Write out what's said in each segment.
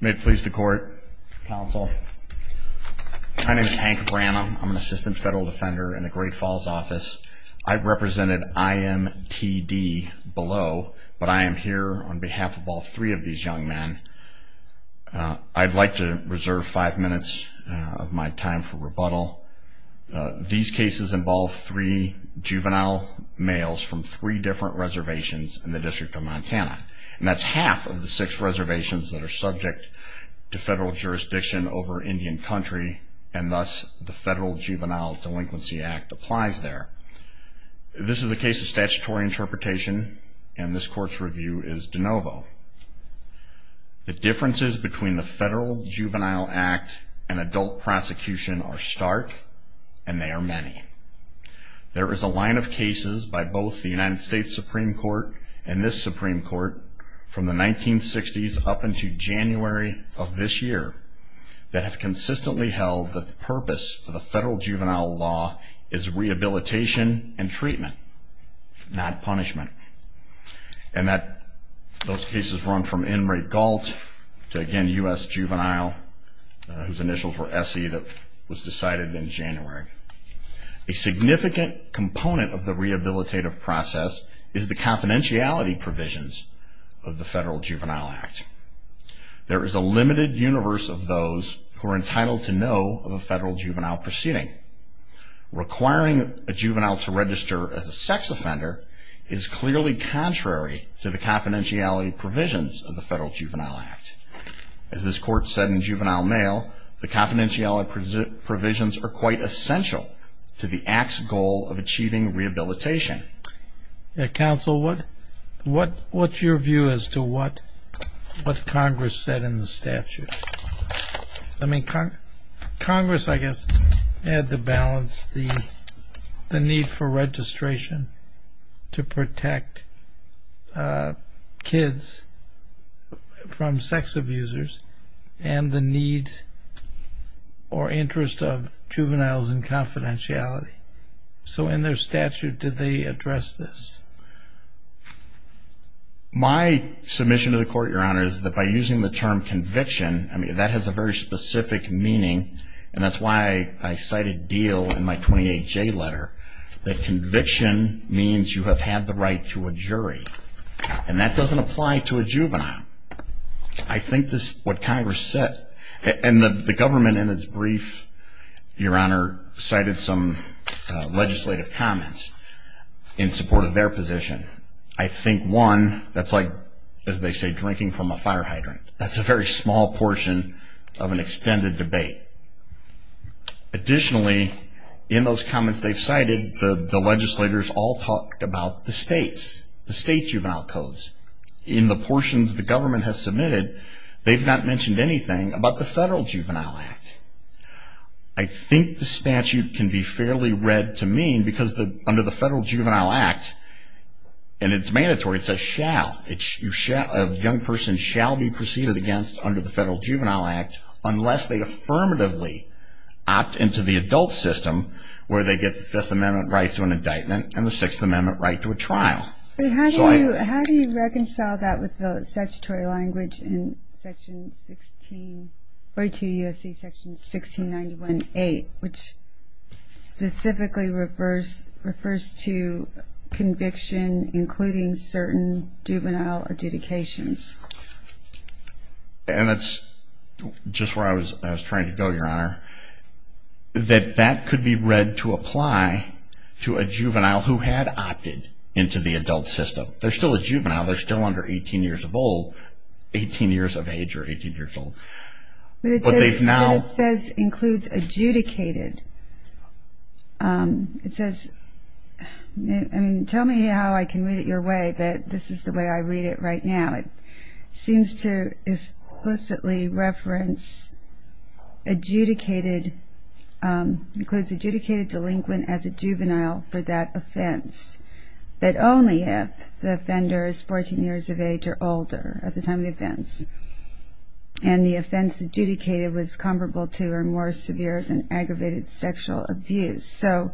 May it please the court, counsel. My name is Hank Branham. I'm an assistant federal defender in the Great Falls office. I represented IMTD below, but I am here on behalf of all three of these young men. I'd like to reserve five minutes of my time for rebuttal. These cases involve three juvenile males from three different reservations in the District of Montana. And that's half of the six reservations that are subject to federal jurisdiction over Indian Country, and thus the Federal Juvenile Delinquency Act applies there. This is a case of statutory interpretation, and this court's review is de novo. The differences between the Federal Juvenile Act and adult prosecution are stark, and they are many. There is a line of cases by both the United States Supreme Court and this Supreme Court from the 1960s up into January of this year that have consistently held that the purpose of the Federal Juvenile Law is rehabilitation and treatment, not punishment. And those cases run from Inmate Galt to, again, U.S. Juvenile, whose initials were S.E. that was decided in January. A significant component of the rehabilitative process is the confidentiality provisions of the Federal Juvenile Act. There is a limited universe of those who are entitled to know of a federal juvenile proceeding. Requiring a juvenile to register as a sex offender is clearly contrary to the confidentiality provisions of the Federal Juvenile Act. As this court said in Juvenile Mail, the confidentiality provisions are quite essential to the Act's goal of achieving rehabilitation. Counsel, what's your view as to what Congress said in the statute? I mean, Congress, I guess, had to balance the need for registration to protect kids from sex abusers and the need or interest of juveniles in confidentiality. So in their statute, did they address this? My submission to the Court, Your Honor, is that by using the term conviction, I mean, that has a very specific meaning, and that's why I cited Deal in my 28J letter, that conviction means you have had the right to a jury, and that doesn't apply to a juvenile. I think this, what Congress said, and the government in its brief, Your Honor, cited some legislative comments in support of their position. I think one, that's like, as they say, drinking from a fire hydrant. That's a very small portion of an extended debate. Additionally, in those comments they've cited, the legislators all talked about the states, the state juvenile codes. In the portions the government has submitted, they've not mentioned anything about the Federal Juvenile Act. I think the statute can be fairly read to mean, because under the Federal Juvenile Act, and it's mandatory, it says shall, a young person shall be proceeded against under the Federal Juvenile Act, unless they affirmatively opt into the adult system, where they get the Fifth Amendment right to an indictment, and the Sixth Amendment right to a trial. But how do you reconcile that with the statutory language in section 16, 42 U.S.C. section 1691.8, which specifically refers to conviction, including certain juvenile adjudications? And that's just where I was trying to go, Your Honor. That that could be read to apply to a juvenile who had opted into the adult system. They're still a juvenile. They're still under 18 years of age or 18 years old. But it says, includes adjudicated. It says, I mean, tell me how I can read it your way, but this is the way I read it right now. It seems to explicitly reference adjudicated, includes adjudicated delinquent as a juvenile for that offense, but only if the offender is 14 years of age or older at the time of the offense. And the offense adjudicated was comparable to or more severe than aggravated sexual abuse. So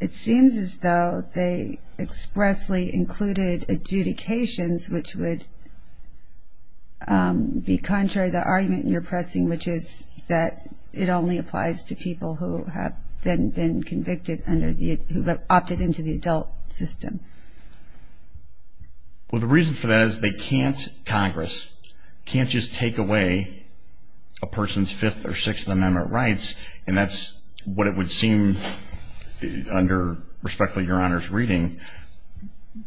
it seems as though they expressly included adjudications, which would be contrary to the argument you're pressing, which is that it only applies to people who have been convicted under the, who have opted into the adult system. Well, the reason for that is they can't, Congress, can't just take away a person's Fifth or Sixth Amendment rights. And that's what it would seem under, respectfully, Your Honor's reading.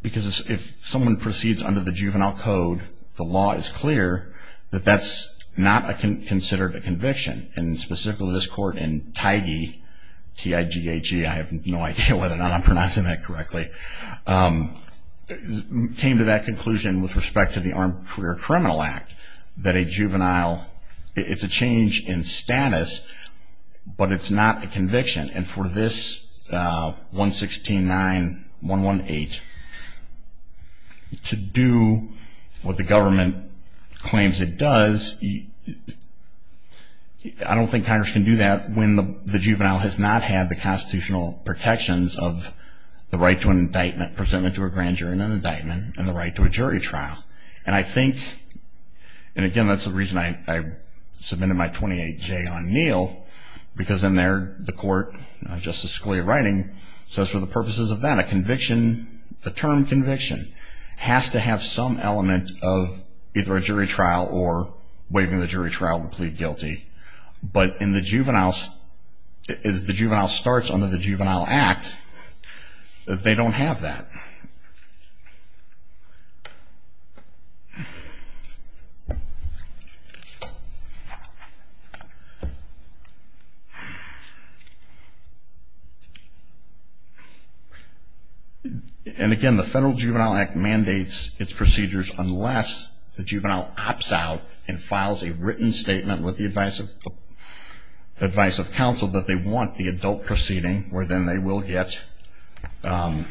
Because if someone proceeds under the juvenile code, the law is clear that that's not considered a conviction. And specifically this court in Teige, T-I-G-E-H-E, I have no idea whether or not I'm pronouncing that correctly, came to that conclusion with respect to the Armed Career Criminal Act, that a juvenile, it's a change in status, but it's not a conviction. And for this 116.9118 to do what the government claims it does, I don't think Congress can do that when the juvenile has not had the constitutional protections of the right to an indictment, presentment to a grand jury and an indictment, and the right to a jury trial. And I think, and again that's the reason I submitted my 28-J on Neal, because in there the court, Justice Scalia writing, says for the purposes of that, a conviction, the term conviction, has to have some element of either a jury trial or waiving the jury trial to plead guilty. But in the juveniles, as the juvenile starts under the juvenile act, they don't have that. And again, the Federal Juvenile Act mandates its procedures unless the juvenile opts out and files a written statement with the advice of counsel that they want the adult proceeding, where then they will get the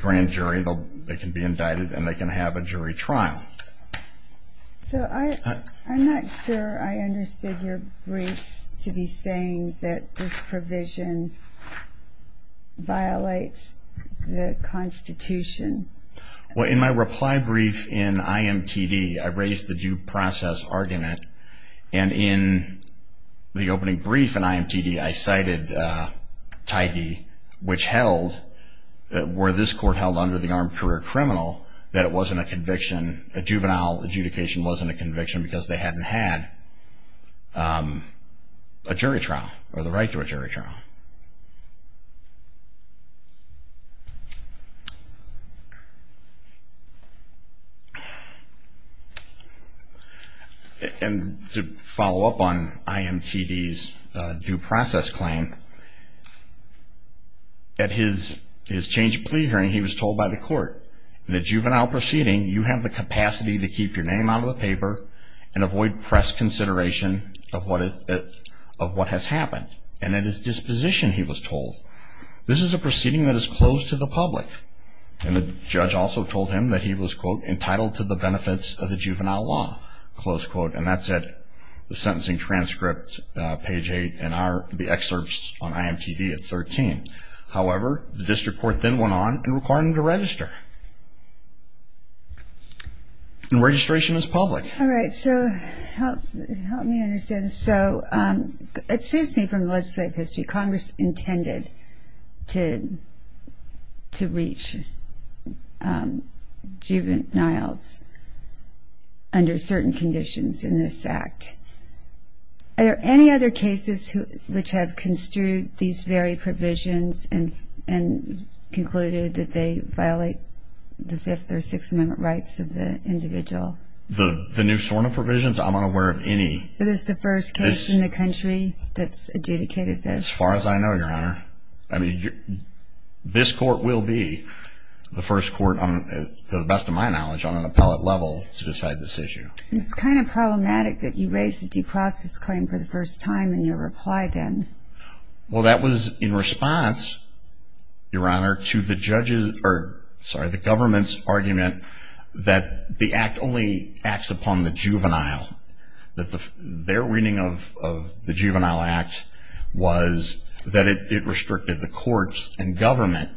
grand jury, they can be indicted, and they can have a jury trial. So I'm not sure I understood your briefs to be saying that this provision violates the Constitution. Well, in my reply brief in IMTD, I raised the due process argument. And in the opening brief in IMTD, I cited tidy, which held, where this court held under the armed career criminal, that it wasn't a conviction, a juvenile adjudication wasn't a conviction because they hadn't had a jury trial or the right to a jury trial. And to follow up on IMTD's due process claim, at his change of plea hearing, he was told by the court, in the juvenile proceeding, you have the capacity to keep your name out of the paper and avoid press consideration of what has happened. And at his disposition, he was told, this is a proceeding that is closed to the public. And the judge also told him that he was, quote, entitled to the benefits of the juvenile law, close quote. And that's at the sentencing transcript, page 8, and the excerpts on IMTD at 13. However, the district court then went on and required him to register. And registration is public. All right. So help me understand. So it seems to me from the legislative history, Congress intended to reach juveniles under certain conditions in this act. Are there any other cases which have construed these very provisions and concluded that they violate the Fifth or Sixth Amendment rights of the individual? The new SORNA provisions? I'm unaware of any. So this is the first case in the country that's adjudicated this? As far as I know, Your Honor. I mean, this court will be the first court, to the best of my knowledge, on an appellate level to decide this issue. It's kind of problematic that you raised the due process claim for the first time in your reply then. Well, that was in response, Your Honor, to the government's argument that the act only acts upon the juvenile, that their reading of the Juvenile Act was that it restricted the courts and government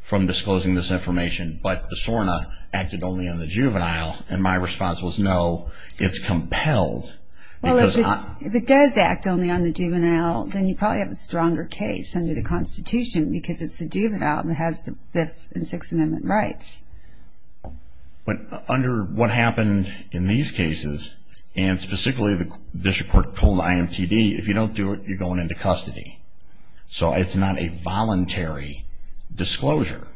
from disclosing this information, but the SORNA acted only on the juvenile. And my response was no, it's compelled. Well, if it does act only on the juvenile, then you probably have a stronger case under the Constitution because it's the juvenile that has the Fifth and Sixth Amendment rights. But under what happened in these cases, and specifically the district court called IMTD, if you don't do it, you're going into custody. So it's not a voluntary disclosure.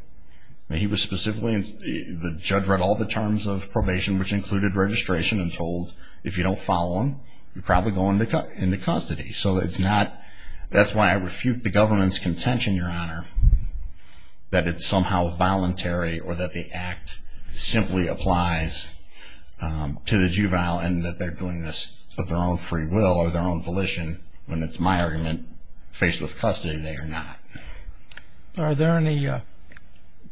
He was specifically, the judge read all the terms of probation, which included registration, and told if you don't follow them, you're probably going into custody. So it's not, that's why I refute the government's contention, Your Honor, that it's somehow voluntary or that the act simply applies to the juvenile and that they're doing this of their own free will or their own volition. When it's my argument, faced with custody, they are not. Are there any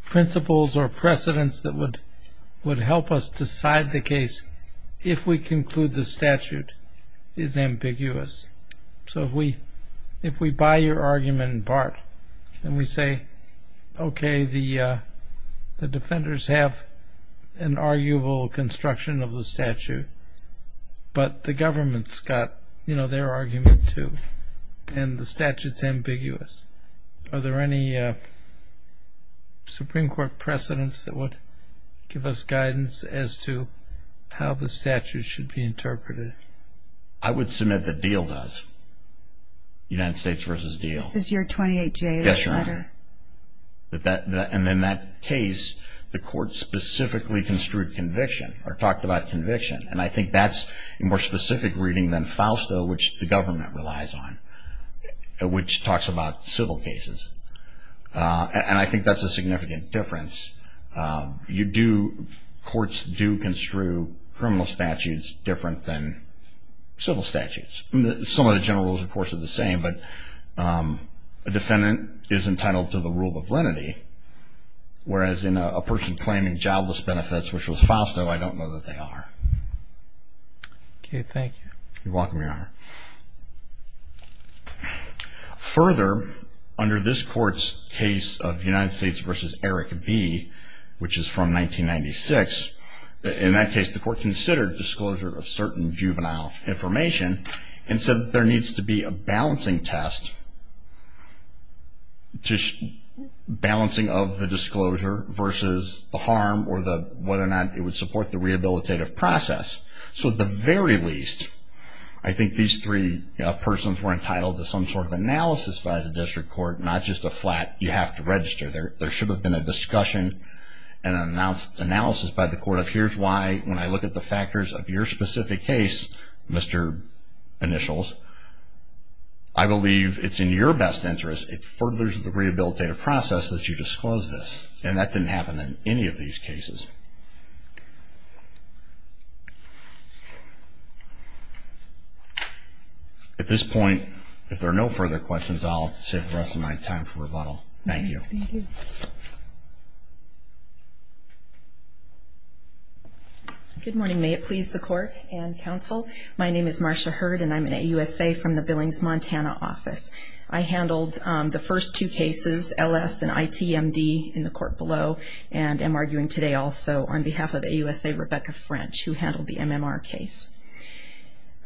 principles or precedents that would help us decide the case if we conclude the statute is ambiguous? So if we buy your argument in part and we say, okay, the defenders have an arguable construction of the statute, but the government's got, you know, their argument too, and the statute's ambiguous. Are there any Supreme Court precedents that would give us guidance as to how the statute should be interpreted? I would submit that Deal does, United States v. Deal. This is your 28-J letter. Yes, Your Honor. And in that case, the court specifically construed conviction or talked about conviction. And I think that's a more specific reading than Fausto, which the government relies on, which talks about civil cases. And I think that's a significant difference. You do – courts do construe criminal statutes different than civil statutes. Some of the general rules, of course, are the same, but a defendant is entitled to the rule of lenity, whereas in a person claiming jobless benefits, which was Fausto, I don't know that they are. You're welcome, Your Honor. Further, under this court's case of United States v. Eric B., which is from 1996, in that case, the court considered disclosure of certain juvenile information and said that there needs to be a balancing test, balancing of the disclosure versus the harm or whether or not it would support the rehabilitative process. So at the very least, I think these three persons were entitled to some sort of analysis by the district court, not just a flat, you have to register. There should have been a discussion and an analysis by the court of, here's why, when I look at the factors of your specific case, Mr. Initials, I believe it's in your best interest, it furthers the rehabilitative process that you disclose this. And that didn't happen in any of these cases. At this point, if there are no further questions, I'll save the rest of my time for rebuttal. Thank you. Thank you. Good morning. May it please the court and counsel, my name is Marcia Hurd and I'm an AUSA from the Billings, Montana office. I handled the first two cases, L.S. and I.T.M.D. in the court below and am arguing today also on behalf of AUSA Rebecca French, who handled the MMR case.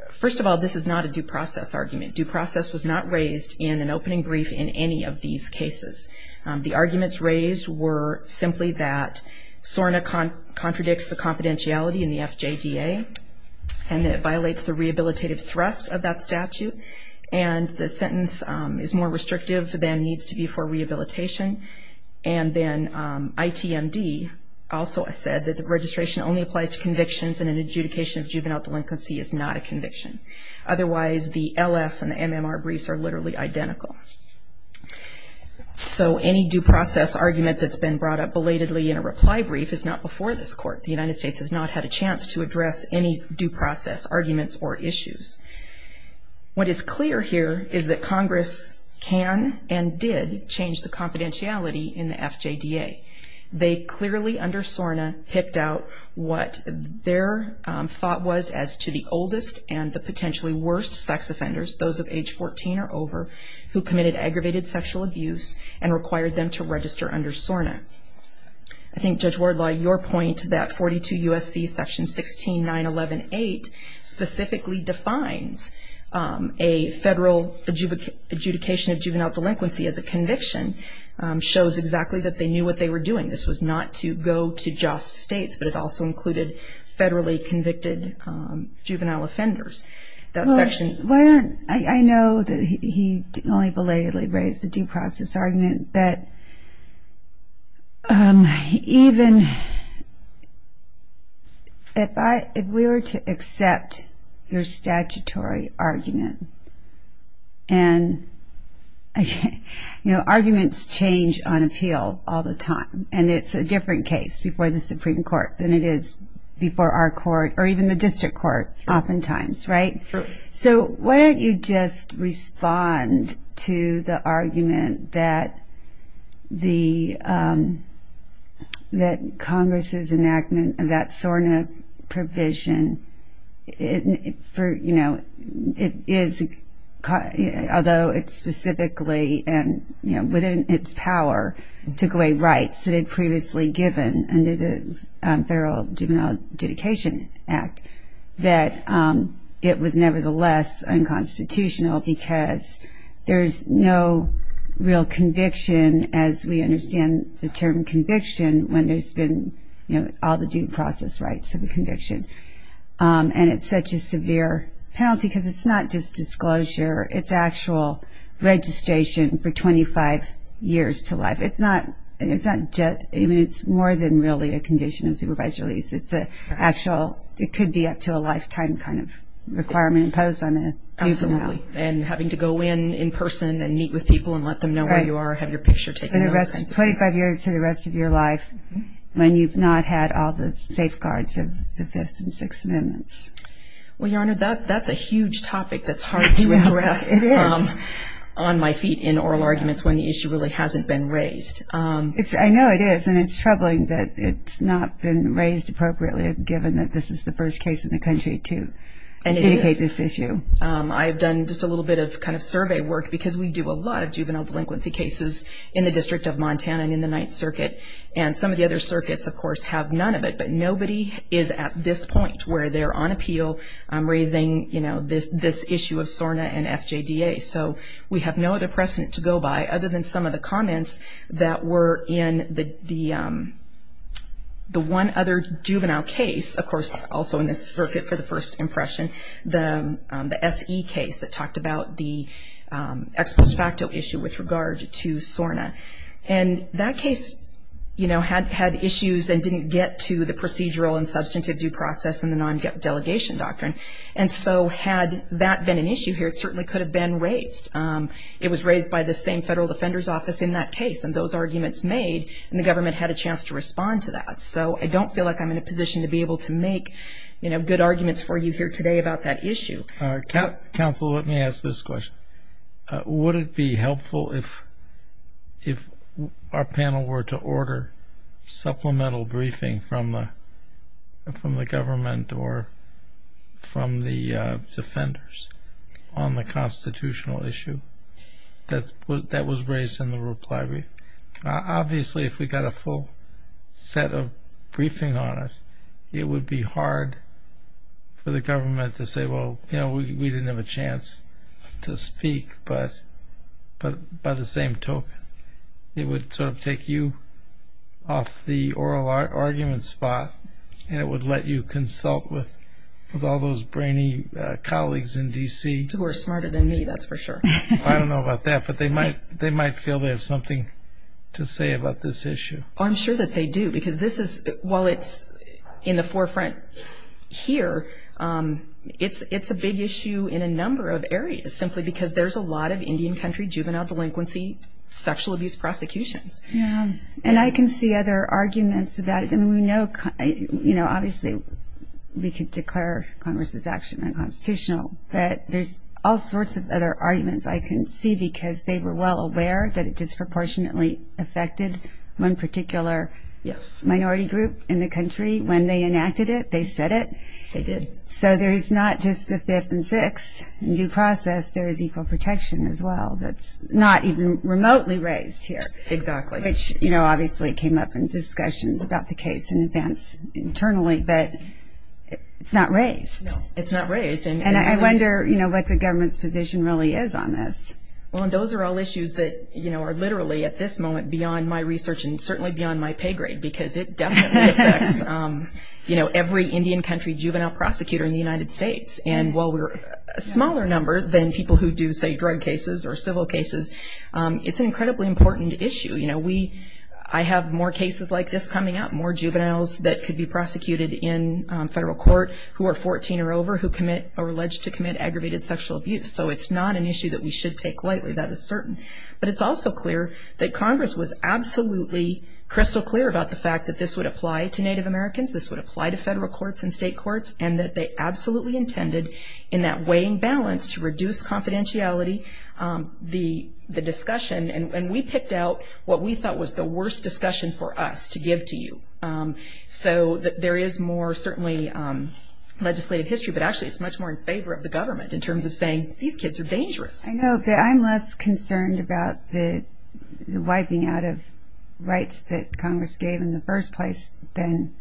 First of all, this is not a due process argument. Due process was not raised in an opening brief in any of these cases. The arguments raised were simply that SORNA contradicts the confidentiality in the FJDA and that it violates the rehabilitative thrust of that statute and the sentence is more restrictive than needs to be for rehabilitation. And then I.T.M.D. also said that the registration only applies to convictions and an adjudication of juvenile delinquency is not a conviction. Otherwise, the L.S. and the MMR briefs are literally identical. So any due process argument that's been brought up belatedly in a reply brief is not before this court. The United States has not had a chance to address any due process arguments or issues. What is clear here is that Congress can and did change the confidentiality in the FJDA. They clearly under SORNA picked out what their thought was as to the oldest and the potentially worst sex offenders, those of age 14 or over, who committed aggravated sexual abuse and required them to register under SORNA. I think, Judge Wardlaw, your point that 42 U.S.C. section 16.911.8 specifically defines a federal adjudication of juvenile delinquency as a conviction shows exactly that they knew what they were doing. This was not to go to just states, but it also included federally convicted juvenile offenders. Well, I know that he only belatedly raised the due process argument, but even if we were to accept your statutory argument, and arguments change on appeal all the time, and it's a different case before the Supreme Court than it is before our court oftentimes, right? Sure. So why don't you just respond to the argument that Congress's enactment of that SORNA provision, although it specifically and within its power took away rights that it had previously given under the Federal Juvenile Adjudication Act, that it was nevertheless unconstitutional because there's no real conviction as we understand the term conviction when there's been all the due process rights of a conviction. And it's such a severe penalty because it's not just disclosure, it's actual registration for 25 years to life. It's more than really a condition of supervisory release. It could be up to a lifetime kind of requirement imposed on a juvenile. Absolutely, and having to go in in person and meet with people and let them know where you are, have your picture taken. 25 years to the rest of your life when you've not had all the safeguards of the Fifth and Sixth Amendments. Well, Your Honor, that's a huge topic that's hard to address on my feet in oral arguments when the issue really hasn't been raised. I know it is, and it's troubling that it's not been raised appropriately given that this is the first case in the country to indicate this issue. And it is. I've done just a little bit of kind of survey work because we do a lot of juvenile delinquency cases in the District of Montana and in the Ninth Circuit. And some of the other circuits, of course, have none of it, but nobody is at this point where they're on appeal raising this issue of SORNA and FJDA. So we have no other precedent to go by other than some of the comments that were in the one other juvenile case, of course, also in this circuit for the first impression, the SE case that talked about the ex post facto issue with regard to SORNA. And that case, you know, had issues and didn't get to the procedural and substantive due process and the non-delegation doctrine. And so had that been an issue here, it certainly could have been raised. It was raised by the same Federal Defender's Office in that case. And those arguments made, and the government had a chance to respond to that. So I don't feel like I'm in a position to be able to make, you know, good arguments for you here today about that issue. Counsel, let me ask this question. Would it be helpful if our panel were to order supplemental briefing from the government or from the defenders on the constitutional issue that was raised in the reply brief? Obviously, if we got a full set of briefing on it, it would be hard for the government to say, well, you know, we didn't have a chance to speak. But by the same token, it would sort of take you off the oral argument spot and it would let you consult with all those brainy colleagues in D.C. Who are smarter than me, that's for sure. I don't know about that, but they might feel they have something to say about this issue. I'm sure that they do because this is, while it's in the forefront here, it's a big issue in a number of areas simply because there's a lot of Indian country juvenile delinquency, sexual abuse prosecutions. Yeah, and I can see other arguments about it. And we know, you know, obviously we could declare Congress's action unconstitutional, but there's all sorts of other arguments I can see because they were well aware that it disproportionately affected one particular minority group in the country. When they enacted it, they said it. They did. So there's not just the fifth and sixth. In due process, there is equal protection as well that's not even remotely raised here. Exactly. Which, you know, obviously came up in discussions about the case in advance internally, but it's not raised. It's not raised. And I wonder, you know, what the government's position really is on this. Well, and those are all issues that, you know, are literally at this moment beyond my research and certainly beyond my pay grade because it definitely affects, you know, every Indian country juvenile prosecutor in the United States. And while we're a smaller number than people who do, say, drug cases or civil cases, it's an incredibly important issue. You know, I have more cases like this coming up, more juveniles that could be prosecuted in federal court who are 14 or over who commit or are alleged to commit aggravated sexual abuse. So it's not an issue that we should take lightly. That is certain. But it's also clear that Congress was absolutely crystal clear about the fact that this would apply to Native Americans, this would apply to federal courts and state courts, and that they absolutely intended in that weighing balance to reduce confidentiality the discussion. And we picked out what we thought was the worst discussion for us to give to you. So there is more certainly legislative history, but actually it's much more in favor of the government in terms of saying these kids are dangerous. I know, but I'm less concerned about the wiping out of rights that Congress gave in the first place than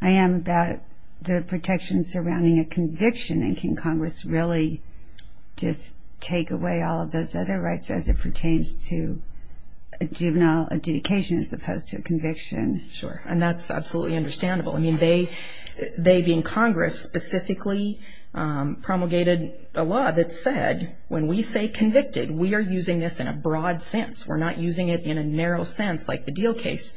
I am about the protections surrounding a conviction and can Congress really just take away all of those other rights as it pertains to a juvenile adjudication as opposed to a conviction. Sure. And that's absolutely understandable. I mean, they being Congress specifically promulgated a law that said when we say convicted, we are using this in a broad sense. We're not using it in a narrow sense like the Deal case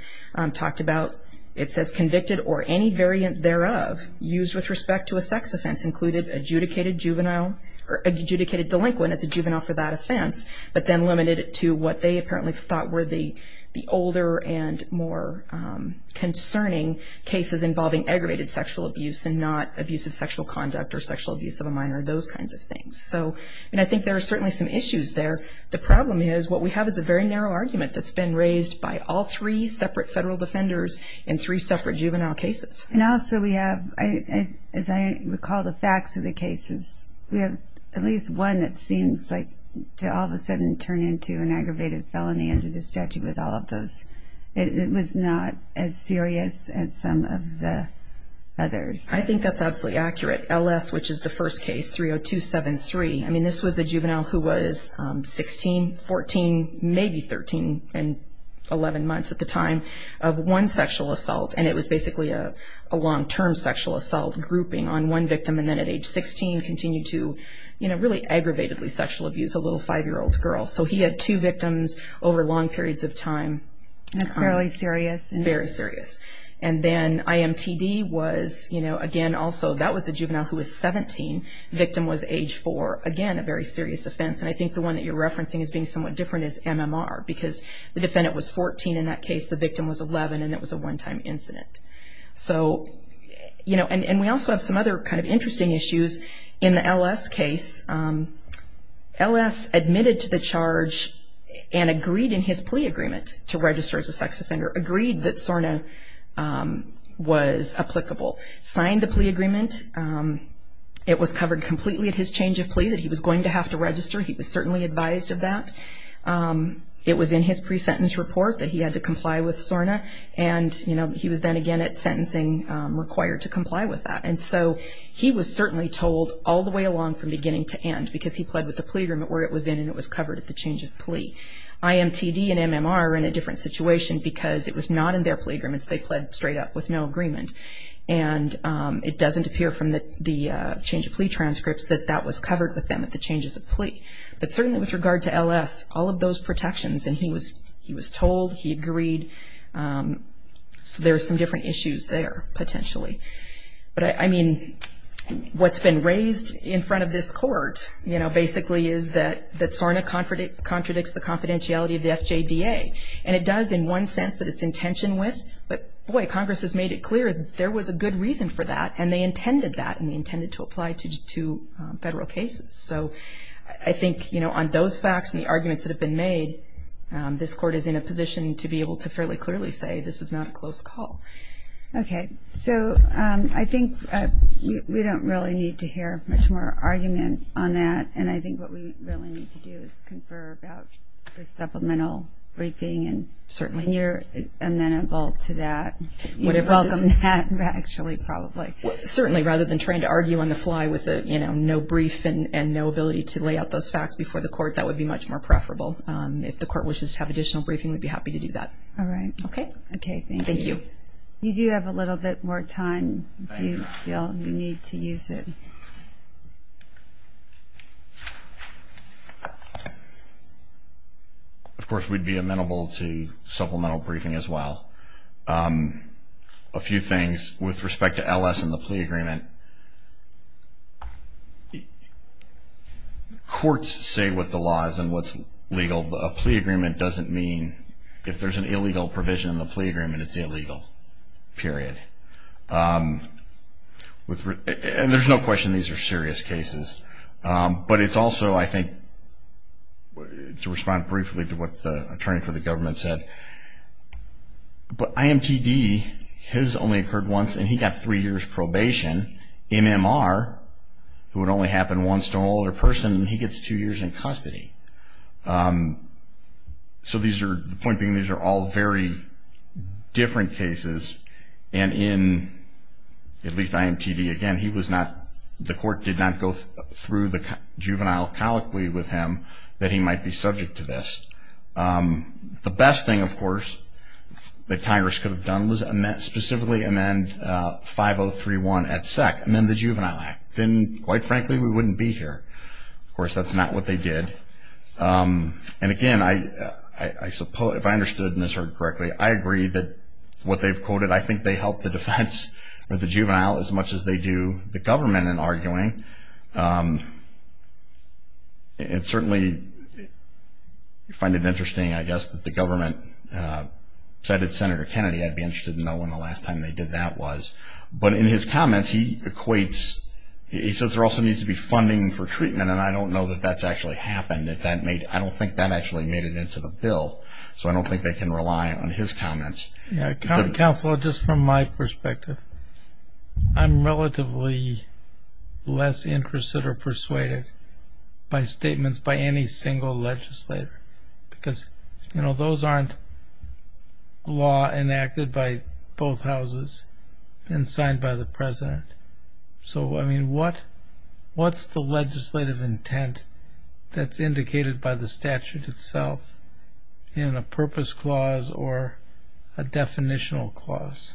talked about. It says convicted or any variant thereof used with respect to a sex offense included adjudicated juvenile or adjudicated delinquent as a juvenile for that offense, but then limited it to what they apparently thought were the older and more concerning cases involving aggravated sexual abuse and not abusive sexual conduct or sexual abuse of a minor, those kinds of things. And I think there are certainly some issues there. The problem is what we have is a very narrow argument that's been raised by all three separate federal defenders in three separate juvenile cases. And also we have, as I recall the facts of the cases, we have at least one that seems like to all of a sudden turn into an aggravated felony under the statute with all of those. It was not as serious as some of the others. I think that's absolutely accurate. LS, which is the first case, 30273, I mean, this was a juvenile who was 16, 14, maybe 13 and 11 months at the time of one sexual assault, and it was basically a long-term sexual assault grouping on one victim and then at age 16 continued to really aggravatedly sexual abuse a little five-year-old girl. So he had two victims over long periods of time. That's fairly serious. Very serious. And then IMTD was, again, also that was a juvenile who was 17. The victim was age four. Again, a very serious offense. And I think the one that you're referencing as being somewhat different is MMR because the defendant was 14 in that case, the victim was 11, and it was a one-time incident. So, you know, and we also have some other kind of interesting issues. In the LS case, LS admitted to the charge and agreed in his plea agreement to register as a sex offender, agreed that SORNA was applicable, signed the plea agreement. It was covered completely at his change of plea that he was going to have to register. He was certainly advised of that. It was in his pre-sentence report that he had to comply with SORNA, and he was then again at sentencing required to comply with that. And so he was certainly told all the way along from beginning to end because he pled with the plea agreement where it was in and it was covered at the change of plea. IMTD and MMR were in a different situation because it was not in their plea agreements. They pled straight up with no agreement. And it doesn't appear from the change of plea transcripts that that was covered with them at the changes of plea. But certainly with regard to LS, all of those protections, and he was told, he agreed. So there are some different issues there potentially. But, I mean, what's been raised in front of this court, you know, basically is that SORNA contradicts the confidentiality of the FJDA. And it does in one sense that it's in tension with, but, boy, Congress has made it clear there was a good reason for that, and they intended that and they intended to apply it to federal cases. So I think, you know, on those facts and the arguments that have been made, this court is in a position to be able to fairly clearly say this is not a close call. Okay. So I think we don't really need to hear much more argument on that, and I think what we really need to do is confer about the supplemental briefing. Certainly. And you're amenable to that. You welcome that, actually, probably. Certainly, rather than trying to argue on the fly with, you know, no brief and no ability to lay out those facts before the court, that would be much more preferable. If the court wishes to have additional briefing, we'd be happy to do that. All right. Okay? Okay, thank you. Thank you. You do have a little bit more time, if you feel you need to use it. Of course, we'd be amenable to supplemental briefing as well. A few things with respect to LS and the plea agreement. Courts say what the law is and what's legal, but a plea agreement doesn't mean if there's an illegal provision in the plea agreement, it's illegal, period. And there's no question these are serious cases. But it's also, I think, to respond briefly to what the attorney for the government said, but IMTD has only occurred once, and he got three years probation. MMR, who would only happen once to an older person, he gets two years in custody. So the point being, these are all very different cases. And in, at least IMTD, again, he was not, the court did not go through the juvenile colloquy with him that he might be subject to this. The best thing, of course, that Congress could have done was specifically amend 5031 at SEC, amend the Juvenile Act. Then, quite frankly, we wouldn't be here. Of course, that's not what they did. And, again, I suppose, if I understood Ms. Hurd correctly, I agree that what they've quoted, I think they help the defense or the juvenile as much as they do the government in arguing. It's certainly, you find it interesting, I guess, that the government cited Senator Kennedy. I'd be interested to know when the last time they did that was. But in his comments, he equates, he says there also needs to be funding for treatment, and I don't know that that's actually happened. I don't think that actually made it into the bill. So I don't think they can rely on his comments. Counselor, just from my perspective, I'm relatively less interested or persuaded by statements by any single legislator. Because, you know, those aren't law enacted by both houses and signed by the president. So, I mean, what's the legislative intent that's indicated by the statute itself in a purpose clause or a definitional clause?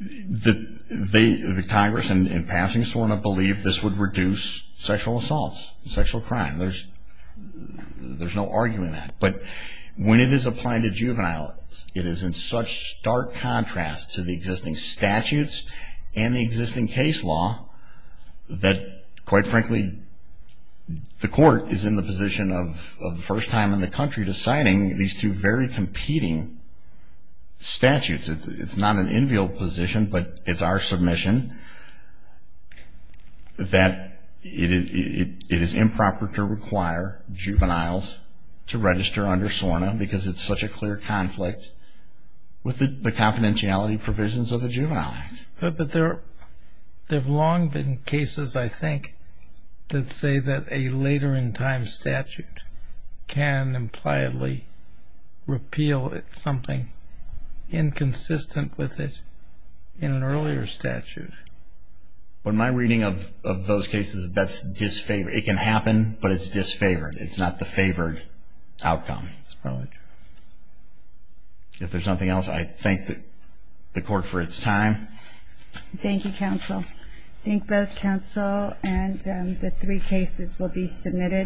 The Congress, in passing, sort of believed this would reduce sexual assaults, sexual crime. There's no arguing that. But when it is applied to juveniles, it is in such stark contrast to the existing statutes and the existing case law that, quite frankly, the court is in the position of, for the first time in the country, deciding these two very competing statutes. It's not an enviable position, but it's our submission that it is improper to require juveniles to register under SORNA because it's such a clear conflict with the confidentiality provisions of the Juvenile Act. But there have long been cases, I think, that say that a later in time statute can impliedly repeal something inconsistent with it in an earlier statute. But my reading of those cases, that's disfavored. It can happen, but it's disfavored. It's not the favored outcome. That's probably true. If there's nothing else, I thank the court for its time. Thank you, counsel. I think both counsel and the three cases will be submitted.